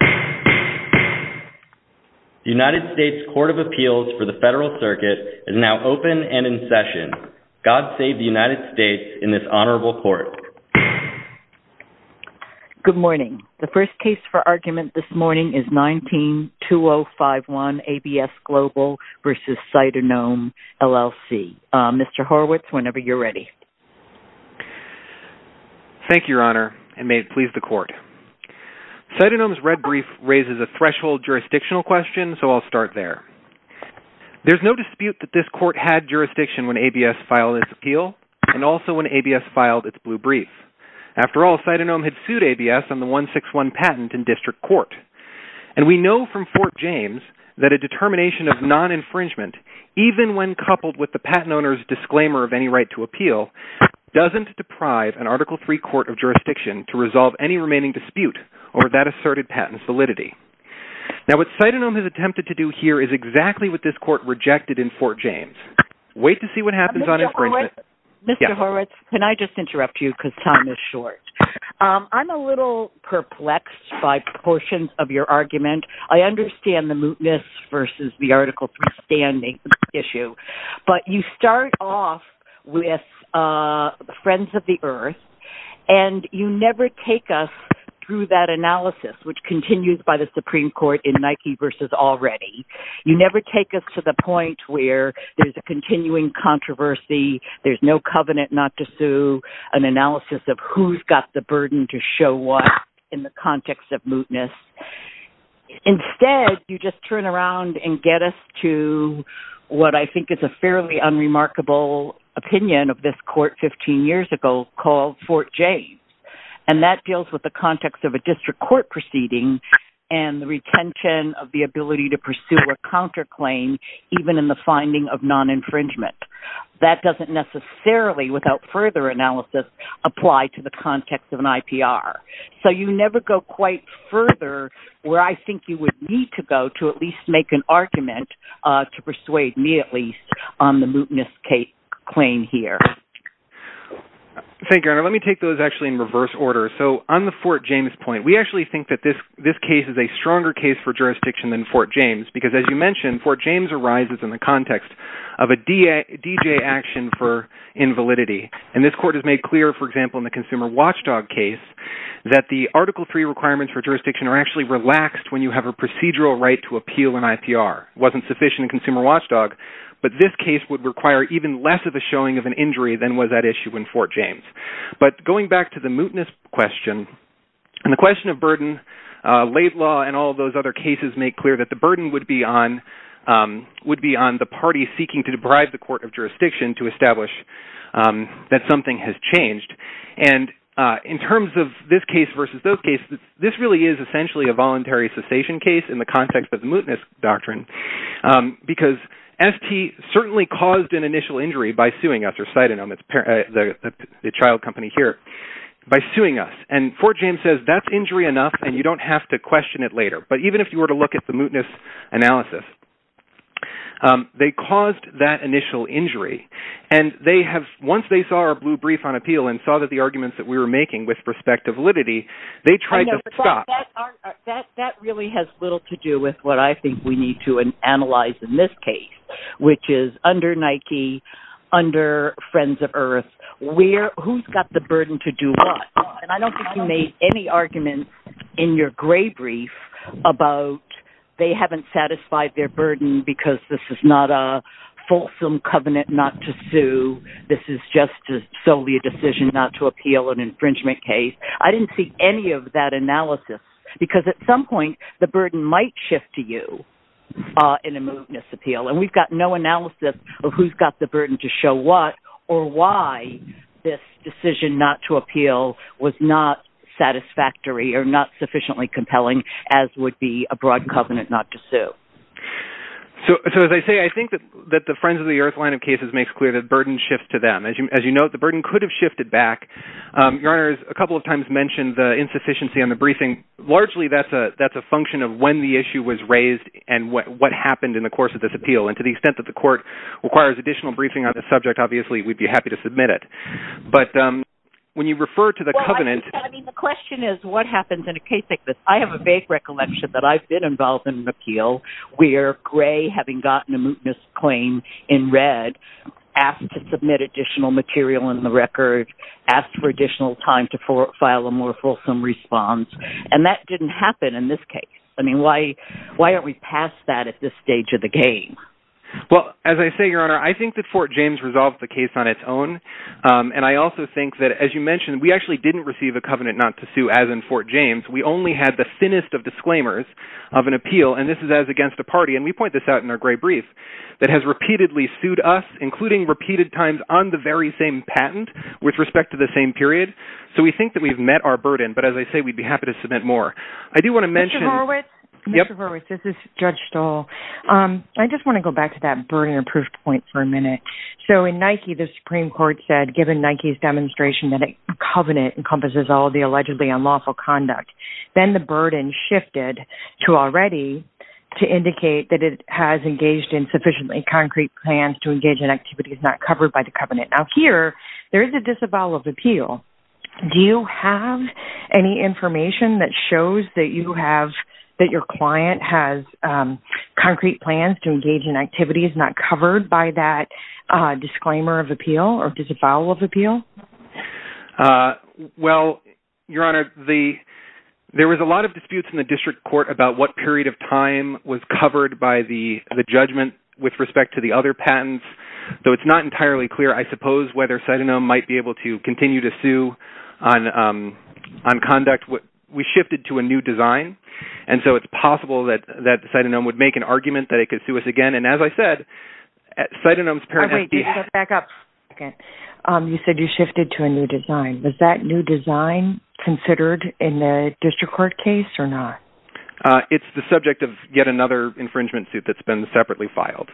The United States Court of Appeals for the Federal Circuit is now open and in session. God save the United States in this honorable court. Good morning. The first case for argument this morning is 19-2051, ABS Global v. Cytonome, LLC. Mr. Horwitz, whenever you're ready. Thank you, Your Honor, and may it please the Court. Cytonome's red brief raises a threshold jurisdictional question, so I'll start there. There's no dispute that this court had jurisdiction when ABS filed its appeal and also when ABS filed its blue brief. After all, Cytonome had sued ABS on the 161 patent in district court. And we know from Fort James that a determination of non-infringement, even when coupled with the patent owner's disclaimer of any right to appeal, doesn't deprive an Article III court of jurisdiction to resolve any remaining dispute over that asserted patent's validity. Now what Cytonome has attempted to do here is exactly what this court rejected in Fort James. Wait to see what happens on infringement. Mr. Horwitz, can I just interrupt you because time is short. I'm a little perplexed by portions of your argument. I understand the mootness versus the Article III standing issue. But you start off with Friends of the Earth, and you never take us through that analysis, which continues by the Supreme Court in Nike versus Already. You never take us to the point where there's a continuing controversy, there's no covenant not to sue, an analysis of who's got the burden to show what in the context of mootness. Instead, you just turn around and get us to what I think is a fairly unremarkable opinion of this court 15 years ago called Fort James. And that deals with the context of a district court proceeding and the retention of the ability to pursue a counterclaim even in the finding of non-infringement. That doesn't necessarily, without further analysis, apply to the context of an IPR. So you never go quite further where I think you would need to go to at least make an argument, to persuade me at least, on the mootness claim here. Thank you, Your Honor. Let me take those actually in reverse order. So on the Fort James point, we actually think that this case is a stronger case for jurisdiction than Fort James because as you mentioned, Fort James arises in the context of a DJ action for invalidity. And this court has made clear, for example, in the Consumer Watchdog case, that the Article III requirements for jurisdiction are actually relaxed when you have a procedural right to appeal an IPR. It wasn't sufficient in Consumer Watchdog, but this case would require even less of a showing of an injury than was at issue in Fort James. But going back to the mootness question, and the question of burden, Laidlaw and all those other cases make clear that the burden would be on the party seeking to deprive the court of jurisdiction to establish that something has changed. And in terms of this case versus those cases, this really is essentially a voluntary cessation case in the context of the mootness doctrine because ST certainly caused an initial injury by suing us, or Citanom, the child company here, by suing us. And Fort James says that's injury enough and you don't have to question it later. But even if you were to look at the mootness analysis, they caused that initial injury. And once they saw our blue brief on appeal and saw the arguments that we were making with respect to validity, they tried to stop. That really has little to do with what I think we need to analyze in this case, which is under Nike, under Friends of Earth, who's got the burden to do what? And I don't think you made any arguments in your gray brief about they haven't satisfied their burden because this is not a fulsome covenant not to sue. This is just solely a decision not to appeal an infringement case. I didn't see any of that analysis because at some point the burden might shift to you in a mootness appeal. And we've got no analysis of who's got the burden to show what or why this decision not to appeal was not satisfactory or not sufficiently compelling, as would be a broad covenant not to sue. So as I say, I think that the Friends of the Earth line of cases makes clear that burden shifts to them. As you note, the burden could have shifted back. Your Honor, a couple of times mentioned the insufficiency on the briefing. Largely, that's a function of when the issue was raised and what happened in the course of this appeal. And to the extent that the court requires additional briefing on this subject, obviously, we'd be happy to submit it. But when you refer to the covenant… The question is what happens in a case like this. I have a vague recollection that I've been involved in an appeal where Gray, having gotten a mootness claim in red, asked to submit additional material in the record, asked for additional time to file a more fulsome response. And that didn't happen in this case. I mean, why aren't we past that at this stage of the game? Well, as I say, Your Honor, I think that Fort James resolved the case on its own. And I also think that, as you mentioned, we actually didn't receive a covenant not to sue as in Fort James. We only had the thinnest of disclaimers of an appeal. And this is as against a party, and we point this out in our Gray brief, that has repeatedly sued us, including repeated times on the very same patent with respect to the same period. So we think that we've met our burden. But as I say, we'd be happy to submit more. I do want to mention… Mr. Horowitz? Mr. Horowitz, this is Judge Stahl. I just want to go back to that burden of proof point for a minute. So in Nike, the Supreme Court said, given Nike's demonstration that a covenant encompasses all the allegedly unlawful conduct, then the burden shifted to already to indicate that it has engaged in sufficiently concrete plans to engage in activities not covered by the covenant. Now, here, there is a disavowal of appeal. Do you have any information that shows that your client has concrete plans to engage in activities not covered by that disclaimer of appeal or disavowal of appeal? Well, Your Honor, there was a lot of disputes in the district court about what period of time was covered by the judgment with respect to the other patents. So it's not entirely clear, I suppose, whether Cytanome might be able to continue to sue on conduct. We shifted to a new design. And so it's possible that Cytanome would make an argument that it could sue us again. You said you shifted to a new design. Was that new design considered in the district court case or not? It's the subject of yet another infringement suit that's been separately filed.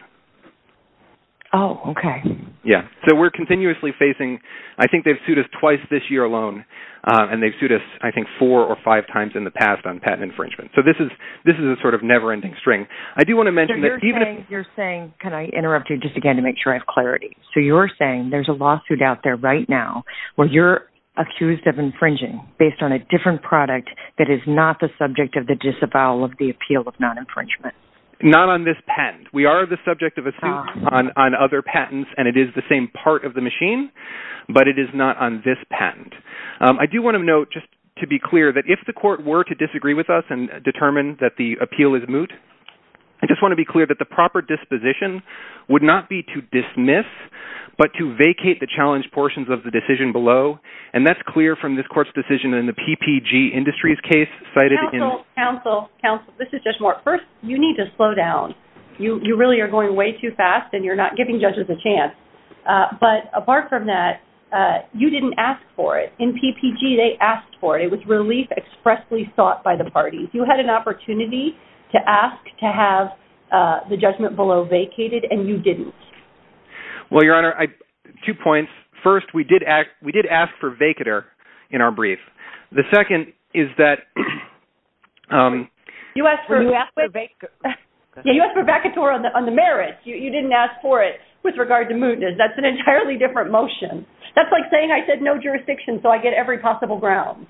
Oh, okay. Yeah. So we're continuously facing, I think they've sued us twice this year alone, and they've sued us, I think, four or five times in the past on patent infringement. So this is a sort of never-ending string. You're saying, can I interrupt you just again to make sure I have clarity? So you're saying there's a lawsuit out there right now where you're accused of infringing based on a different product that is not the subject of the disavowal of the appeal of non-infringement. Not on this patent. We are the subject of a suit on other patents, and it is the same part of the machine, but it is not on this patent. I do want to note, just to be clear, that if the court were to disagree with us and determine that the appeal is moot, I just want to be clear that the proper disposition would not be to dismiss but to vacate the challenge portions of the decision below, and that's clear from this court's decision in the PPG Industries case cited in – Counsel, counsel, counsel, this is Judge Moore. First, you need to slow down. You really are going way too fast, and you're not giving judges a chance. But apart from that, you didn't ask for it. In PPG, they asked for it. It was relief expressly sought by the parties. You had an opportunity to ask to have the judgment below vacated, and you didn't. Well, Your Honor, two points. First, we did ask for vacater in our brief. The second is that – You asked for vacator on the merits. You didn't ask for it with regard to mootness. That's an entirely different motion. That's like saying I said no jurisdiction so I get every possible ground.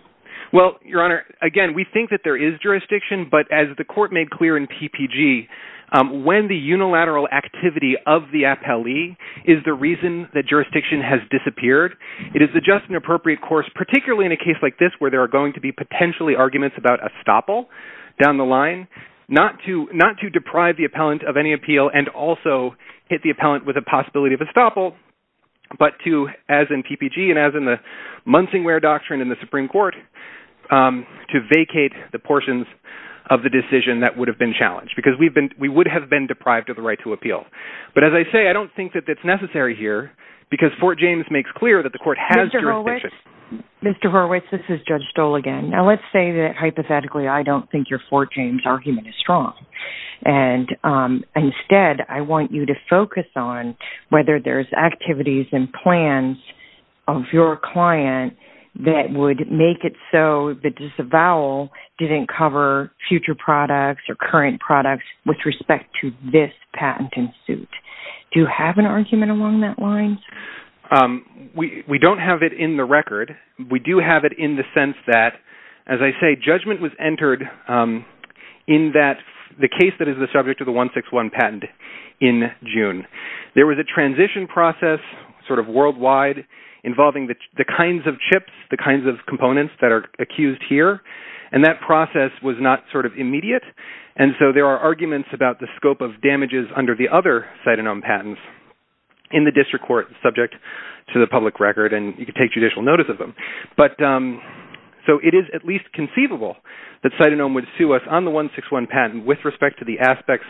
Well, Your Honor, again, we think that there is jurisdiction, but as the court made clear in PPG, when the unilateral activity of the appellee is the reason that jurisdiction has disappeared, it is just an appropriate course, particularly in a case like this where there are going to be potentially arguments about estoppel down the line, not to deprive the appellant of any appeal and also hit the appellant with a possibility of estoppel, but to, as in PPG and as in the Munsingware Doctrine in the Supreme Court, to vacate the portions of the decision that would have been challenged, because we would have been deprived of the right to appeal. But as I say, I don't think that that's necessary here, because Fort James makes clear that the court has jurisdiction. Mr. Horwitz, this is Judge Stoll again. Now, let's say that hypothetically I don't think your Fort James argument is strong, and instead I want you to focus on whether there's activities and plans of your client that would make it so that disavowal didn't cover future products or current products with respect to this patent in suit. Do you have an argument along that line? We don't have it in the record. We do have it in the sense that, as I say, judgment was entered in the case that is the subject of the 161 patent in June. There was a transition process sort of worldwide involving the kinds of chips, the kinds of components that are accused here, and that process was not sort of immediate, and so there are arguments about the scope of damages under the other Citanome patents in the district court subject to the public record, and you can take judicial notice of them. So it is at least conceivable that Citanome would sue us on the 161 patent with respect to the aspects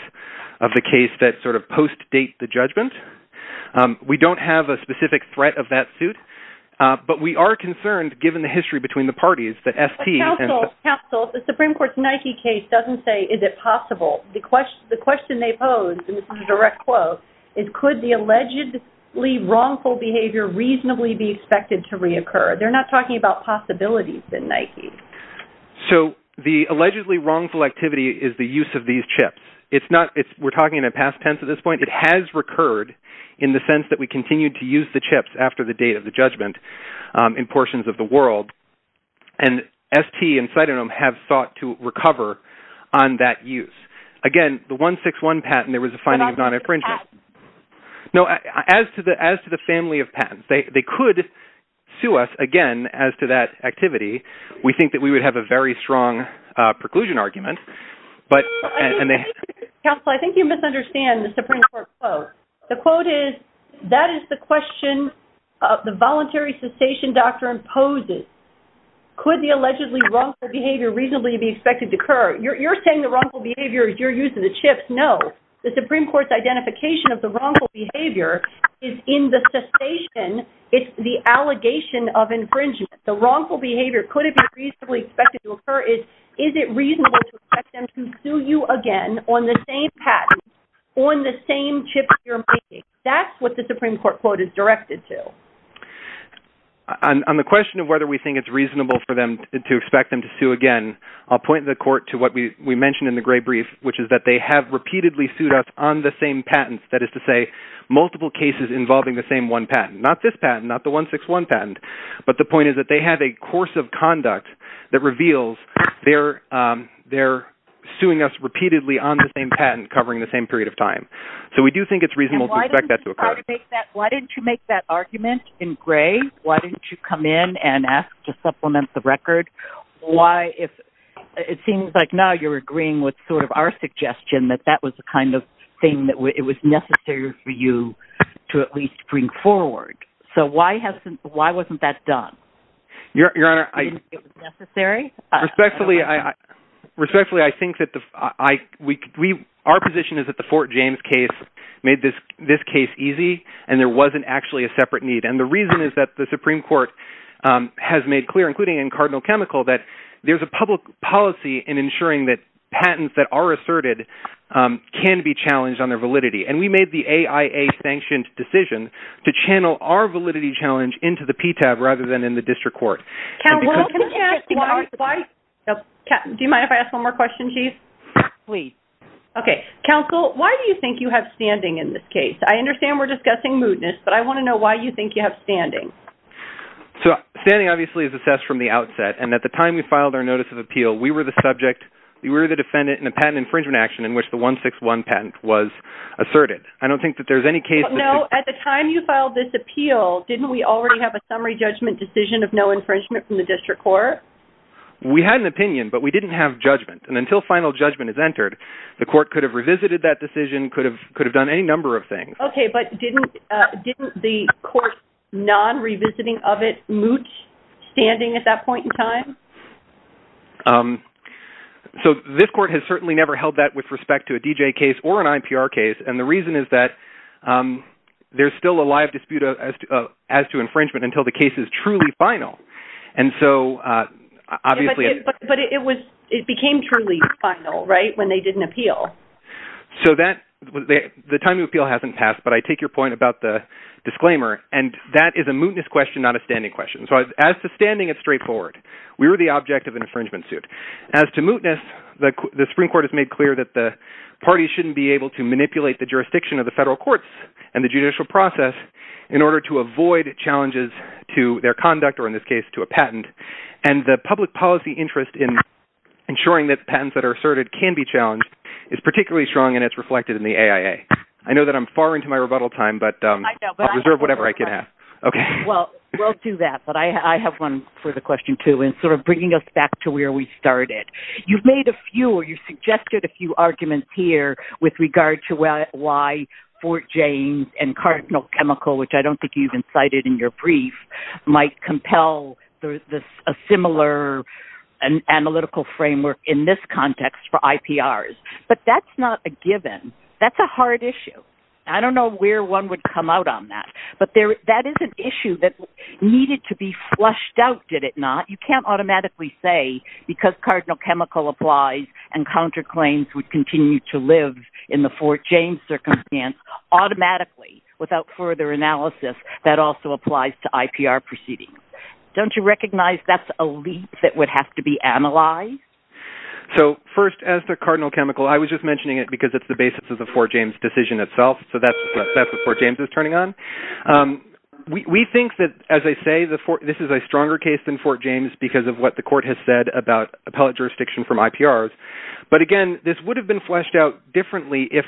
of the case that sort of post-date the judgment. We don't have a specific threat of that suit, but we are concerned, given the history between the parties, that ST and… Counsel, the Supreme Court's Nike case doesn't say, is it possible? The question they pose, and this is a direct quote, is could the allegedly wrongful behavior reasonably be expected to reoccur? They're not talking about possibilities in Nike. So the allegedly wrongful activity is the use of these chips. We're talking in a past tense at this point. It has recurred in the sense that we continue to use the chips after the date of the judgment in portions of the world, and ST and Citanome have sought to recover on that use. Again, the 161 patent, there was a finding of non-infringement. As to the patent? No, as to the family of patents. They could sue us, again, as to that activity. We think that we would have a very strong preclusion argument, but… Counsel, I think you misunderstand the Supreme Court quote. The quote is, that is the question the voluntary cessation doctrine poses. Could the allegedly wrongful behavior reasonably be expected to occur? You're saying the wrongful behavior is your use of the chips. No. The Supreme Court's identification of the wrongful behavior is in the cessation. It's the allegation of infringement. The wrongful behavior, could it be reasonably expected to occur? Is it reasonable to expect them to sue you again on the same patent, on the same chips you're making? That's what the Supreme Court quote is directed to. On the question of whether we think it's reasonable for them to expect them to sue again, I'll point the court to what we mentioned in the gray brief, which is that they have repeatedly sued us on the same patents. That is to say, multiple cases involving the same one patent. Not this patent, not the 161 patent. But the point is that they have a course of conduct that reveals they're suing us repeatedly on the same patent, covering the same period of time. So we do think it's reasonable to expect that to occur. Why didn't you make that argument in gray? Why didn't you come in and ask to supplement the record? It seems like now you're agreeing with our suggestion that that was the kind of thing that was necessary for you to at least bring forward. So why wasn't that done? Your Honor, respectfully, I think that our position is that the Fort James case made this case easy, and there wasn't actually a separate need. And the reason is that the Supreme Court has made clear, including in Cardinal Chemical, that there's a public policy in ensuring that patents that are asserted can be challenged on their validity. And we made the AIA-sanctioned decision to channel our validity challenge into the PTAB rather than in the district court. Counsel, why do you think you have standing in this case? I understand we're discussing moodness, but I want to know why you think you have standing. Standing, obviously, is assessed from the outset. And at the time we filed our notice of appeal, we were the defendant in a patent infringement action in which the 161 patent was asserted. I don't think that there's any case that's... No, at the time you filed this appeal, didn't we already have a summary judgment decision of no infringement from the district court? We had an opinion, but we didn't have judgment. And until final judgment is entered, the court could have revisited that decision, could have done any number of things. Okay, but didn't the court's non-revisiting of it mooch standing at that point in time? So this court has certainly never held that with respect to a DJ case or an IPR case, and the reason is that there's still a live dispute as to infringement until the case is truly final. But it became truly final, right, when they did an appeal? So the time of appeal hasn't passed, but I take your point about the disclaimer, and that is a moodness question, not a standing question. So as to standing, it's straightforward. We were the object of an infringement suit. As to moodness, the Supreme Court has made clear that the parties shouldn't be able to manipulate the jurisdiction of the federal courts and the judicial process in order to avoid challenges to their conduct or, in this case, to a patent. And the public policy interest in ensuring that patents that are asserted can be challenged is particularly strong, and it's reflected in the AIA. I know that I'm far into my rebuttal time, but I'll reserve whatever I can have. Okay. Well, we'll do that, but I have one for the question, too, in sort of bringing us back to where we started. You've made a few or you've suggested a few arguments here with regard to why Fort James and Cardinal Chemical, which I don't think you've incited in your brief, might compel a similar analytical framework in this context for IPRs. But that's not a given. That's a hard issue. I don't know where one would come out on that. But that is an issue that needed to be flushed out, did it not? You can't automatically say because Cardinal Chemical applies and counterclaims would continue to live in the Fort James circumstance automatically without further analysis that also applies to IPR proceedings. Don't you recognize that's a leap that would have to be analyzed? So, first, as to Cardinal Chemical, I was just mentioning it because it's the basis of the Fort James decision itself. So that's what Fort James is turning on. We think that, as I say, this is a stronger case than Fort James because of what the court has said about appellate jurisdiction from IPRs. But, again, this would have been fleshed out differently if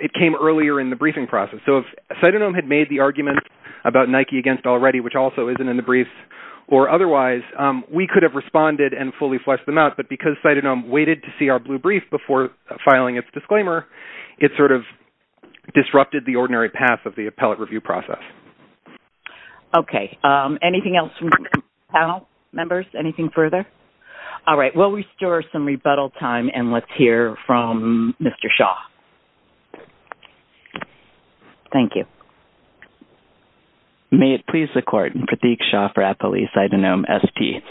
it came earlier in the briefing process. So if Cytonohm had made the argument about Nike against already, which also isn't in the briefs, or otherwise, we could have responded and fully flushed them out. But because Cytonohm waited to see our blue brief before filing its disclaimer, it sort of disrupted the ordinary path of the appellate review process. Okay. Anything else from the panel members? Anything further? All right. We'll restore some rebuttal time, and let's hear from Mr. Shaw. Thank you. May it please the court, Pratik Shaw for Appellee Cytonohm, ST.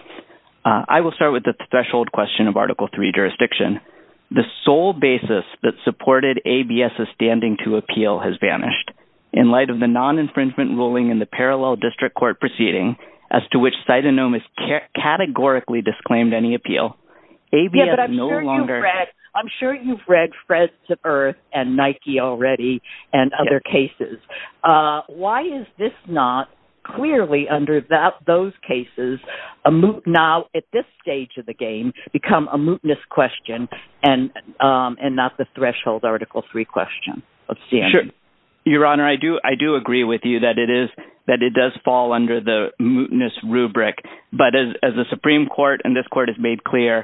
I will start with the threshold question of Article III jurisdiction. The sole basis that supported ABS's standing to appeal has vanished. In light of the non-infringement ruling in the parallel district court proceeding, as to which Cytonohm has categorically disclaimed any appeal, I'm sure you've read Fred to Earth and Nike already, and other cases. Why is this not clearly under those cases, now at this stage of the game, become a mootness question, and not the threshold Article III question? Your Honor, I do agree with you that it does fall under the mootness rubric. But as the Supreme Court and this court has made clear,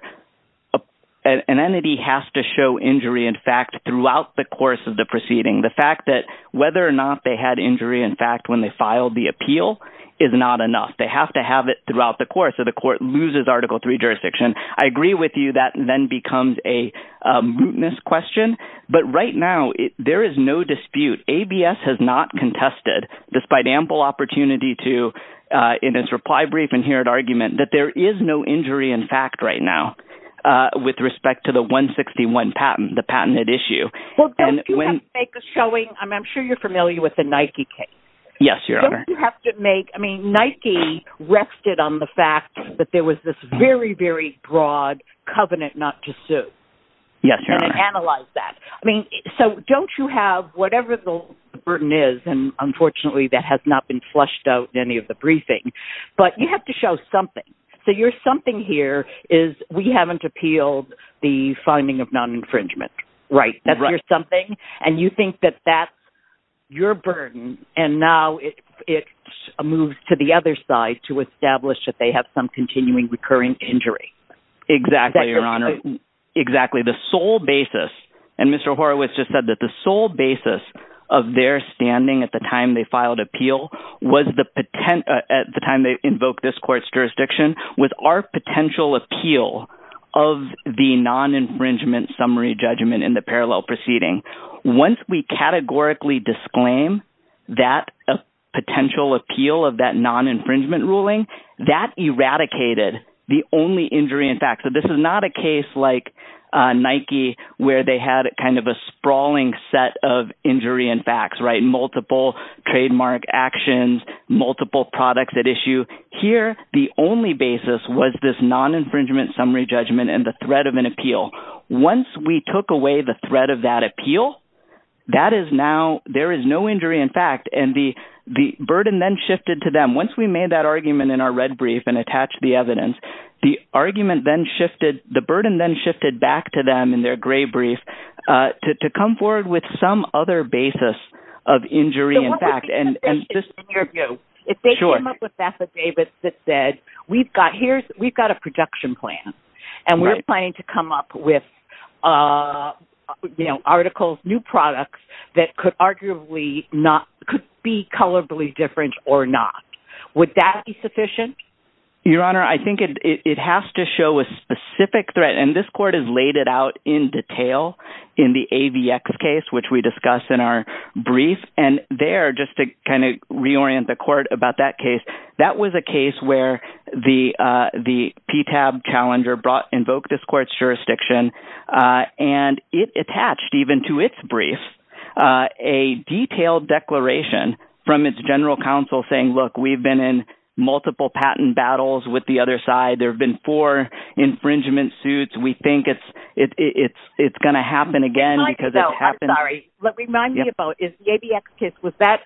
an entity has to show injury in fact throughout the course of the proceeding. The fact that whether or not they had injury in fact when they filed the appeal is not enough. They have to have it throughout the course, or the court loses Article III jurisdiction. I agree with you that then becomes a mootness question. But right now, there is no dispute. ABS has not contested, despite ample opportunity to, in its reply brief and here at argument, that there is no injury in fact right now, with respect to the 161 patent, the patented issue. Well, don't you have to make a showing, I'm sure you're familiar with the Nike case. Yes, Your Honor. Don't you have to make, I mean, Nike rested on the fact that there was this very, very broad covenant not to sue. Yes, Your Honor. And it analyzed that. I mean, so don't you have, whatever the burden is, and unfortunately that has not been flushed out in any of the briefing, but you have to show something. So your something here is we haven't appealed the finding of non-infringement. Right. That's your something, and you think that that's your burden, and now it moves to the other side to establish that they have some continuing recurring injury. Exactly, Your Honor. Exactly, the sole basis, and Mr. Horowitz just said that the sole basis of their standing at the time they filed appeal was the, at the time they invoked this court's jurisdiction, was our potential appeal of the non-infringement summary judgment in the parallel proceeding. Once we categorically disclaim that potential appeal of that non-infringement ruling, that eradicated the only injury in fact. So this is not a case like Nike where they had kind of a sprawling set of injury in facts, right, multiple trademark actions, multiple products at issue. Here, the only basis was this non-infringement summary judgment and the threat of an appeal. Once we took away the threat of that appeal, that is now, there is no injury in fact, and the burden then shifted to them. Once we made that argument in our red brief and attached the evidence, the argument then shifted, the burden then shifted back to them in their gray brief to come forward with some other basis of injury in fact. In your view, if they came up with affidavits that said, we've got a production plan and we're planning to come up with, you know, articles, new products that could arguably not, could be colorably different or not, would that be sufficient? Your Honor, I think it has to show a specific threat, and this court has laid it out in detail in the AVX case, which we discussed in our brief. And there, just to kind of reorient the court about that case, that was a case where the PTAB challenger brought, invoked this court's jurisdiction, and it attached even to its brief a detailed declaration from its general counsel saying, look, we've been in multiple patent battles with the other side. There have been four infringement suits. We think it's going to happen again because it happened. I'm sorry. Remind me about, is the AVX case, was that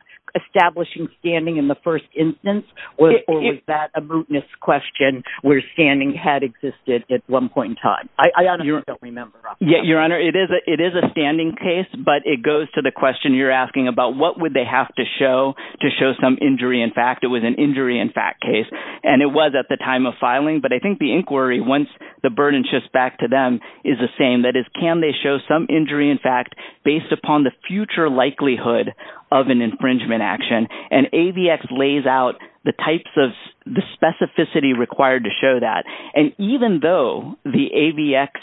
establishing standing in the first instance or was that a mootness question where standing had existed at one point in time? I honestly don't remember. Your Honor, it is a standing case, but it goes to the question you're asking about, what would they have to show to show some injury in fact? It was an injury in fact case, and it was at the time of filing, but I think the inquiry, once the burden shifts back to them, is the same. That is, can they show some injury in fact based upon the future likelihood of an infringement action? And AVX lays out the types of, the specificity required to show that. And even though the AVX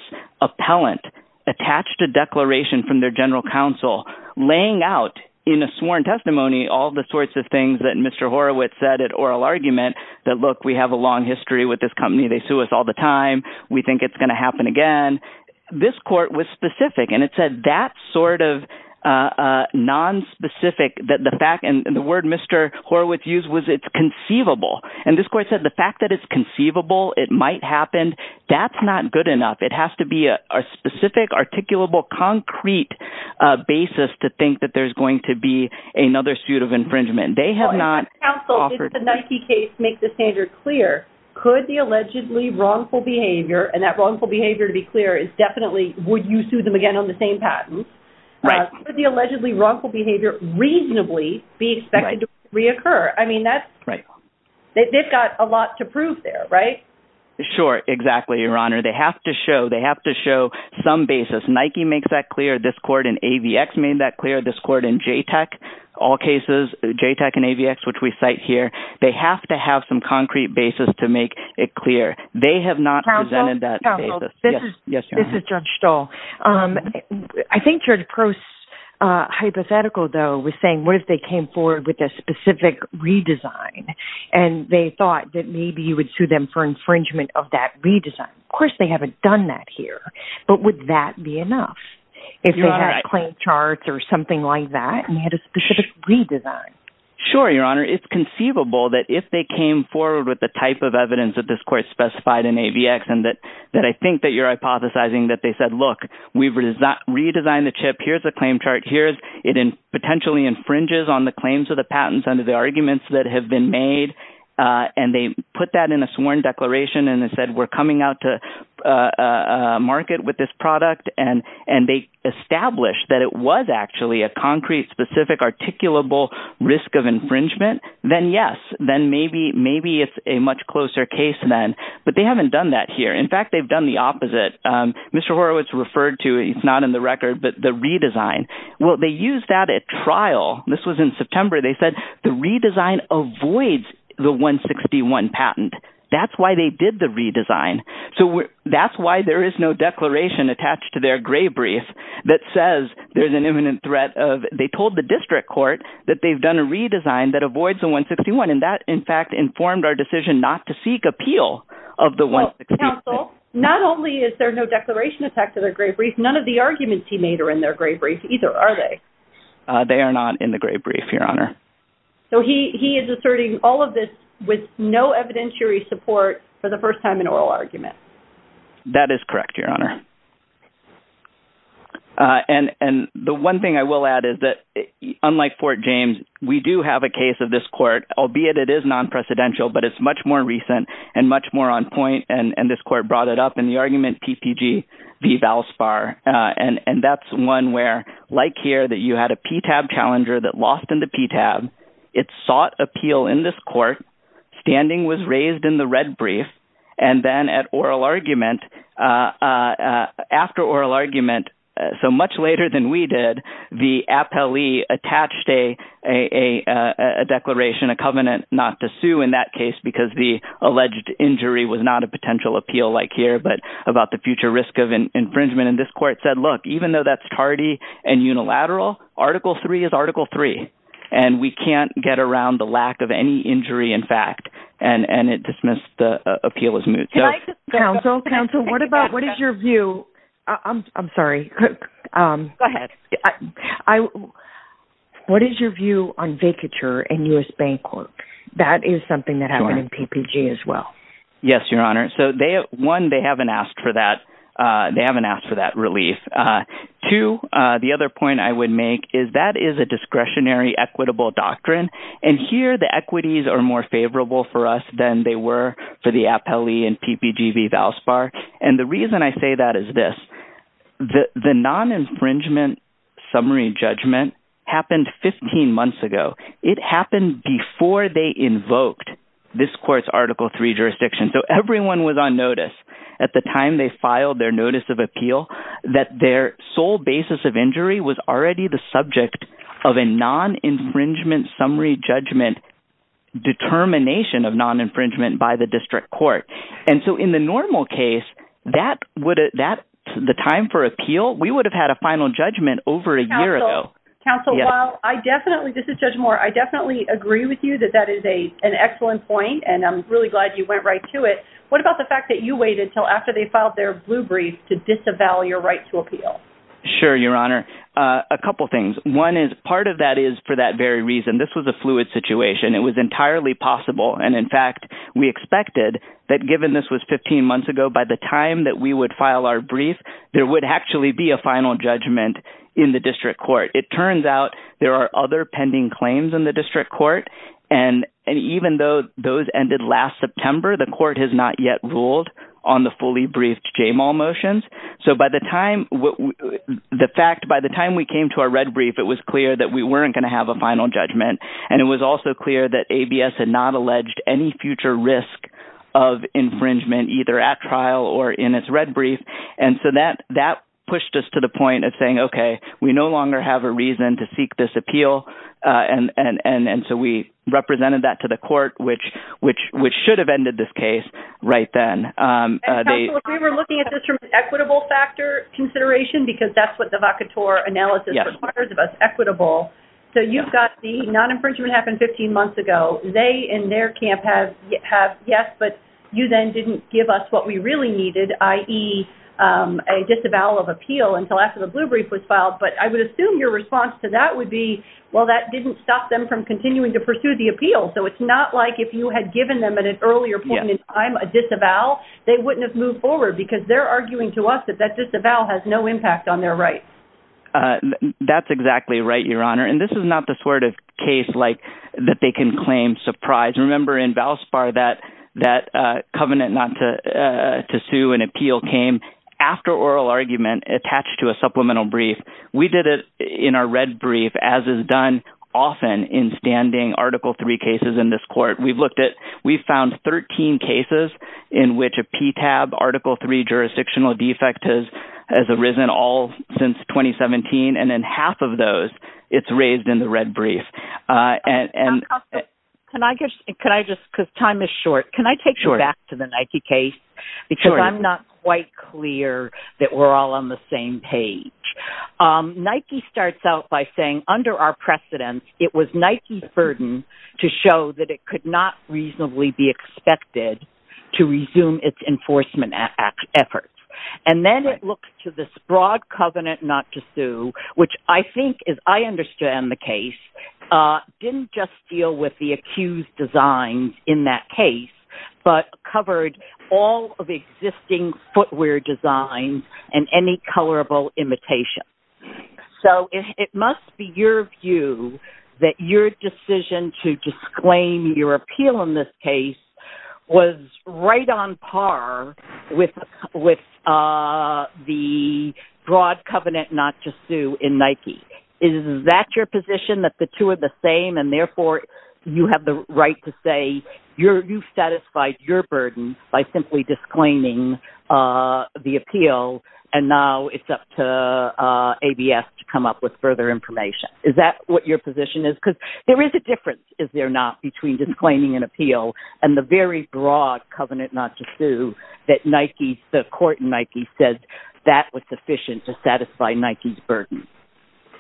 appellant attached a declaration from their general counsel laying out in a sworn testimony all the sorts of things that Mr. Horowitz said at oral argument that, look, we have a long history with this company. They sue us all the time. We think it's going to happen again. This court was specific, and it said that sort of nonspecific, and the word Mr. Horowitz used was it's conceivable. And this court said the fact that it's conceivable, it might happen, that's not good enough. It has to be a specific, articulable, concrete basis to think that there's going to be another suit of infringement. They have not offered. If the Nike case makes the standard clear, could the allegedly wrongful behavior, and that wrongful behavior to be clear is definitely would you sue them again on the same patent. Right. Could the allegedly wrongful behavior reasonably be expected to reoccur? I mean, they've got a lot to prove there, right? Sure, exactly, Your Honor. They have to show some basis. Nike makes that clear. This court in AVX made that clear. This court in JTAC, all cases, JTAC and AVX, which we cite here, they have to have some concrete basis to make it clear. They have not presented that basis. Counsel, this is Judge Stahl. I think your approach, hypothetical though, was saying what if they came forward with a specific redesign and they thought that maybe you would sue them for infringement of that redesign. Of course, they haven't done that here, but would that be enough? If they had a claim chart or something like that and had a specific redesign. Sure, Your Honor. It's conceivable that if they came forward with the type of evidence that this court specified in AVX and that I think that you're hypothesizing that they said, look, we've redesigned the chip. Here's the claim chart. Here it potentially infringes on the claims of the patents under the arguments that have been made, and they put that in a sworn declaration and said we're coming out to market with this product, and they established that it was actually a concrete, specific, articulable risk of infringement, then yes. Then maybe it's a much closer case then. But they haven't done that here. In fact, they've done the opposite. Mr. Horowitz referred to it. It's not in the record, but the redesign. Well, they used that at trial. This was in September. They said the redesign avoids the 161 patent. That's why they did the redesign. So that's why there is no declaration attached to their gray brief that says there's an imminent threat. They told the district court that they've done a redesign that avoids the 161, and that, in fact, informed our decision not to seek appeal of the 161. Counsel, not only is there no declaration attached to their gray brief, none of the arguments he made are in their gray brief either, are they? They are not in the gray brief, Your Honor. So he is asserting all of this with no evidentiary support for the first time in oral argument. That is correct, Your Honor. And the one thing I will add is that, unlike Fort James, we do have a case of this court, albeit it is non-presidential, but it's much more recent and much more on point, and this court brought it up in the argument PPG v. Valspar. And that's one where, like here, that you had a PTAB challenger that lost in the PTAB. It sought appeal in this court. Standing was raised in the red brief. And then at oral argument, after oral argument, so much later than we did, the appellee attached a declaration, a covenant not to sue in that case because the alleged injury was not a potential appeal like here, but about the future risk of infringement. And this court said, look, even though that's tardy and unilateral, Article III is Article III, and we can't get around the lack of any injury in fact. And it dismissed the appeal as moot. Counsel, counsel, what is your view? I'm sorry. Go ahead. What is your view on vacature in U.S. Bank Court? That is something that happened in PPG as well. Yes, Your Honor. So, one, they haven't asked for that. They haven't asked for that relief. Two, the other point I would make is that is a discretionary equitable doctrine. And here the equities are more favorable for us than they were for the appellee in PPG v. Valspar. And the reason I say that is this. The non-infringement summary judgment happened 15 months ago. It happened before they invoked this court's Article III jurisdiction. So, everyone was on notice at the time they filed their notice of appeal that their sole basis of injury was already the subject of a non-infringement summary judgment determination of non-infringement by the district court. And so, in the normal case, the time for appeal, we would have had a final judgment over a year ago. Counsel, while I definitely, this is Judge Moore, I definitely agree with you that that is an excellent point. And I'm really glad you went right to it. What about the fact that you waited until after they filed their blue brief to disavow your right to appeal? Sure, Your Honor. A couple things. One is part of that is for that very reason. This was a fluid situation. It was entirely possible. And in fact, we expected that given this was 15 months ago, by the time that we would file our brief, there would actually be a final judgment in the district court. It turns out there are other pending claims in the district court. And even though those ended last September, the court has not yet ruled on the fully briefed JMAL motions. So, by the time, the fact, by the time we came to our red brief, it was clear that we weren't going to have a final judgment. And it was also clear that ABS had not alleged any future risk of infringement either at trial or in its red brief. And so that pushed us to the point of saying, okay, we no longer have a reason to seek this appeal. And so we represented that to the court, which should have ended this case right then. Counsel, if we were looking at this from an equitable factor consideration, because that's what the vacatur analysis requires of us, equitable. So you've got the non-infringement happened 15 months ago. They, in their camp, have, yes, but you then didn't give us what we really needed, i.e., a disavowal of appeal until after the blue brief was filed. But I would assume your response to that would be, well, that didn't stop them from continuing to pursue the appeal. So it's not like if you had given them at an earlier point in time a disavowal, they wouldn't have moved forward because they're arguing to us that that disavowal has no impact on their rights. That's exactly right, Your Honor. And this is not the sort of case like that they can claim surprise. Remember, in Valspar, that that covenant not to sue an appeal came after oral argument attached to a supplemental brief. We did it in our red brief, as is done often in standing Article three cases in this court. We've looked at we found 13 cases in which a PTAB Article three jurisdictional defect has arisen all since 2017. And then half of those it's raised in the red brief. And can I guess, could I just because time is short, can I take you back to the Nike case? Because I'm not quite clear that we're all on the same page. Nike starts out by saying under our precedents, it was Nike's burden to show that it could not reasonably be expected to resume its enforcement efforts. And then it looks to this broad covenant not to sue, which I think is I understand the case didn't just deal with the accused designs in that case, but covered all of the existing footwear designs and any colorable imitation. So it must be your view that your decision to disclaim your appeal in this case was right on par with the broad covenant not to sue in Nike. Is that your position that the two are the same and therefore you have the right to say you've satisfied your burden by simply disclaiming the appeal and now it's up to ABS to come up with further information? Is that what your position is? Because there is a difference, is there not, between disclaiming an appeal and the very broad covenant not to sue that the court in Nike says that was sufficient to satisfy Nike's burden.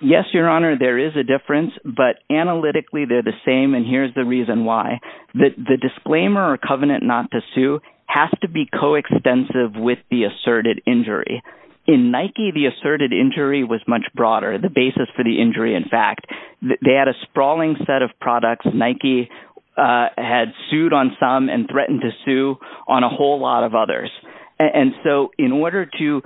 Yes, Your Honor, there is a difference, but analytically they're the same and here's the reason why. The disclaimer or covenant not to sue has to be coextensive with the asserted injury. In Nike, the asserted injury was much broader. The basis for the injury, in fact, they had a sprawling set of products Nike had sued on some and threatened to sue on a whole lot of others. And so in order to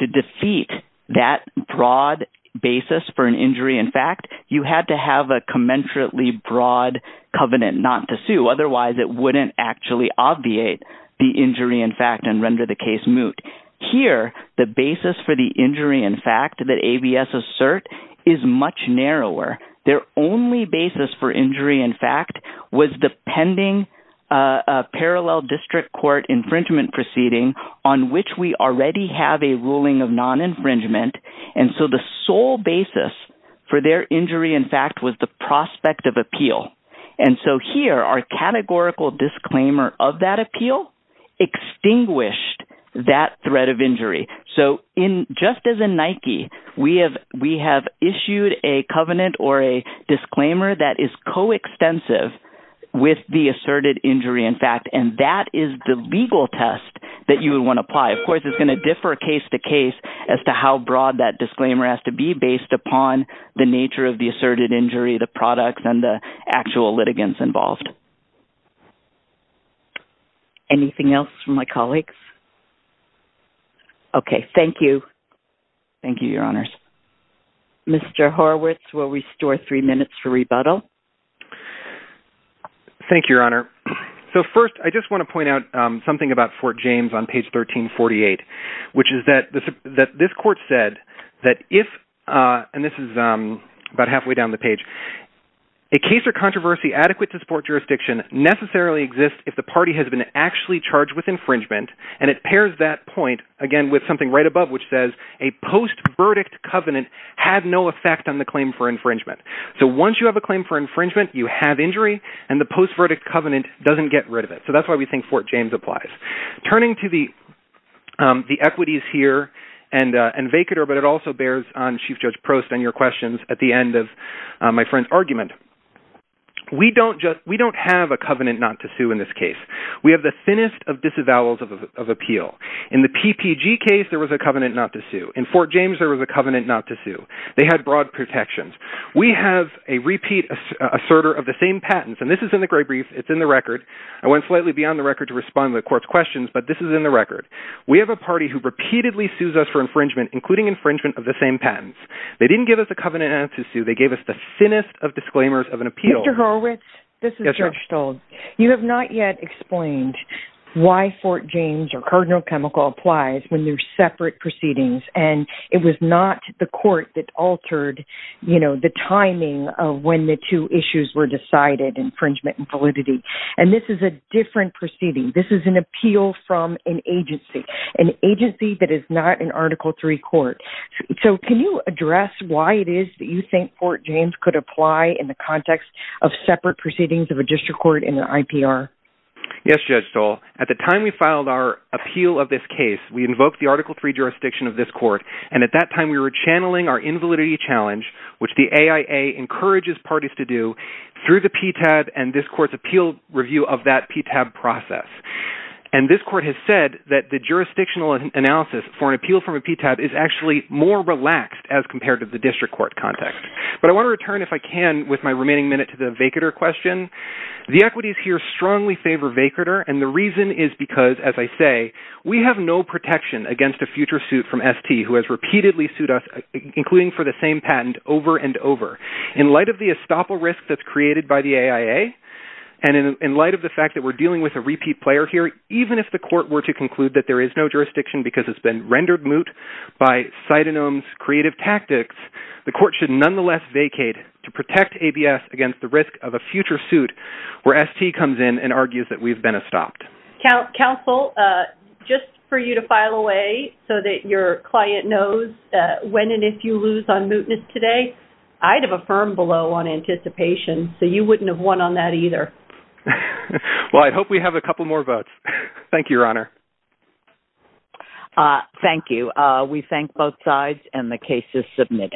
defeat that broad basis for an injury, in fact, you had to have a commensurately broad covenant not to sue. Otherwise, it wouldn't actually obviate the injury, in fact, and render the case moot. Here, the basis for the injury, in fact, that ABS assert is much narrower. Their only basis for injury, in fact, was the pending parallel district court infringement proceeding on which we already have a ruling of non-infringement. And so the sole basis for their injury, in fact, was the prospect of appeal. And so here, our categorical disclaimer of that appeal extinguished that threat of injury. So just as in Nike, we have issued a covenant or a disclaimer that is coextensive with the asserted injury, in fact, and that is the legal test that you would want to apply. Of course, it's going to differ case to case as to how broad that disclaimer has to be based upon the nature of the asserted injury, the products, and the actual litigants involved. Anything else from my colleagues? Okay. Thank you. Thank you, Your Honors. Mr. Horwitz will restore three minutes for rebuttal. Thank you, Your Honor. So first, I just want to point out something about Fort James on page 1348, which is that this court said that if, and this is about halfway down the page, a case or controversy adequate to support jurisdiction necessarily exists if the party has been actually charged with infringement. And it pairs that point, again, with something right above, which says a post-verdict covenant had no effect on the claim for infringement. So once you have a claim for infringement, you have injury, and the post-verdict covenant doesn't get rid of it. So that's why we think Fort James applies. Turning to the equities here and vacater, but it also bears on Chief Judge Prost and your questions at the end of my friend's argument. We don't have a covenant not to sue in this case. We have the thinnest of disavowals of appeal. In the PPG case, there was a covenant not to sue. In Fort James, there was a covenant not to sue. They had broad protections. We have a repeat asserter of the same patents. And this is in the gray brief. It's in the record. I went slightly beyond the record to respond to the court's questions, but this is in the record. We have a party who repeatedly sues us for infringement, including infringement of the same patents. They didn't give us a covenant not to sue. They gave us the thinnest of disclaimers of an appeal. Mr. Horowitz, this is Judge Stold. You have not yet explained why Fort James or Cardinal Chemical applies when they're separate proceedings. And it was not the court that altered the timing of when the two issues were decided, infringement and validity. And this is a different proceeding. This is an appeal from an agency, an agency that is not an Article III court. So can you address why it is that you think Fort James could apply in the context of separate proceedings of a district court in an IPR? Yes, Judge Stold. At the time we filed our appeal of this case, we invoked the Article III jurisdiction of this court. And at that time we were channeling our invalidity challenge, which the AIA encourages parties to do, through the PTAB and this court's appeal review of that PTAB process. And this court has said that the jurisdictional analysis for an appeal from a PTAB is actually more relaxed as compared to the district court context. But I want to return, if I can, with my remaining minute to the Vaquerter question. The equities here strongly favor Vaquerter, and the reason is because, as I say, we have no protection against a future suit from ST who has repeatedly sued us, including for the same patent, over and over. In light of the estoppel risk that's created by the AIA, and in light of the fact that we're dealing with a repeat player here, even if the court were to conclude that there is no jurisdiction because it's been rendered moot by Citanome's creative tactics, the court should nonetheless vacate to protect ABS against the risk of a future suit where ST comes in and argues that we've been estopped. Counsel, just for you to file away so that your client knows when and if you lose on mootness today, I'd have affirmed below on anticipation, so you wouldn't have won on that either. Well, I hope we have a couple more votes. Thank you, Your Honor. Thank you. We thank both sides, and the case is submitted.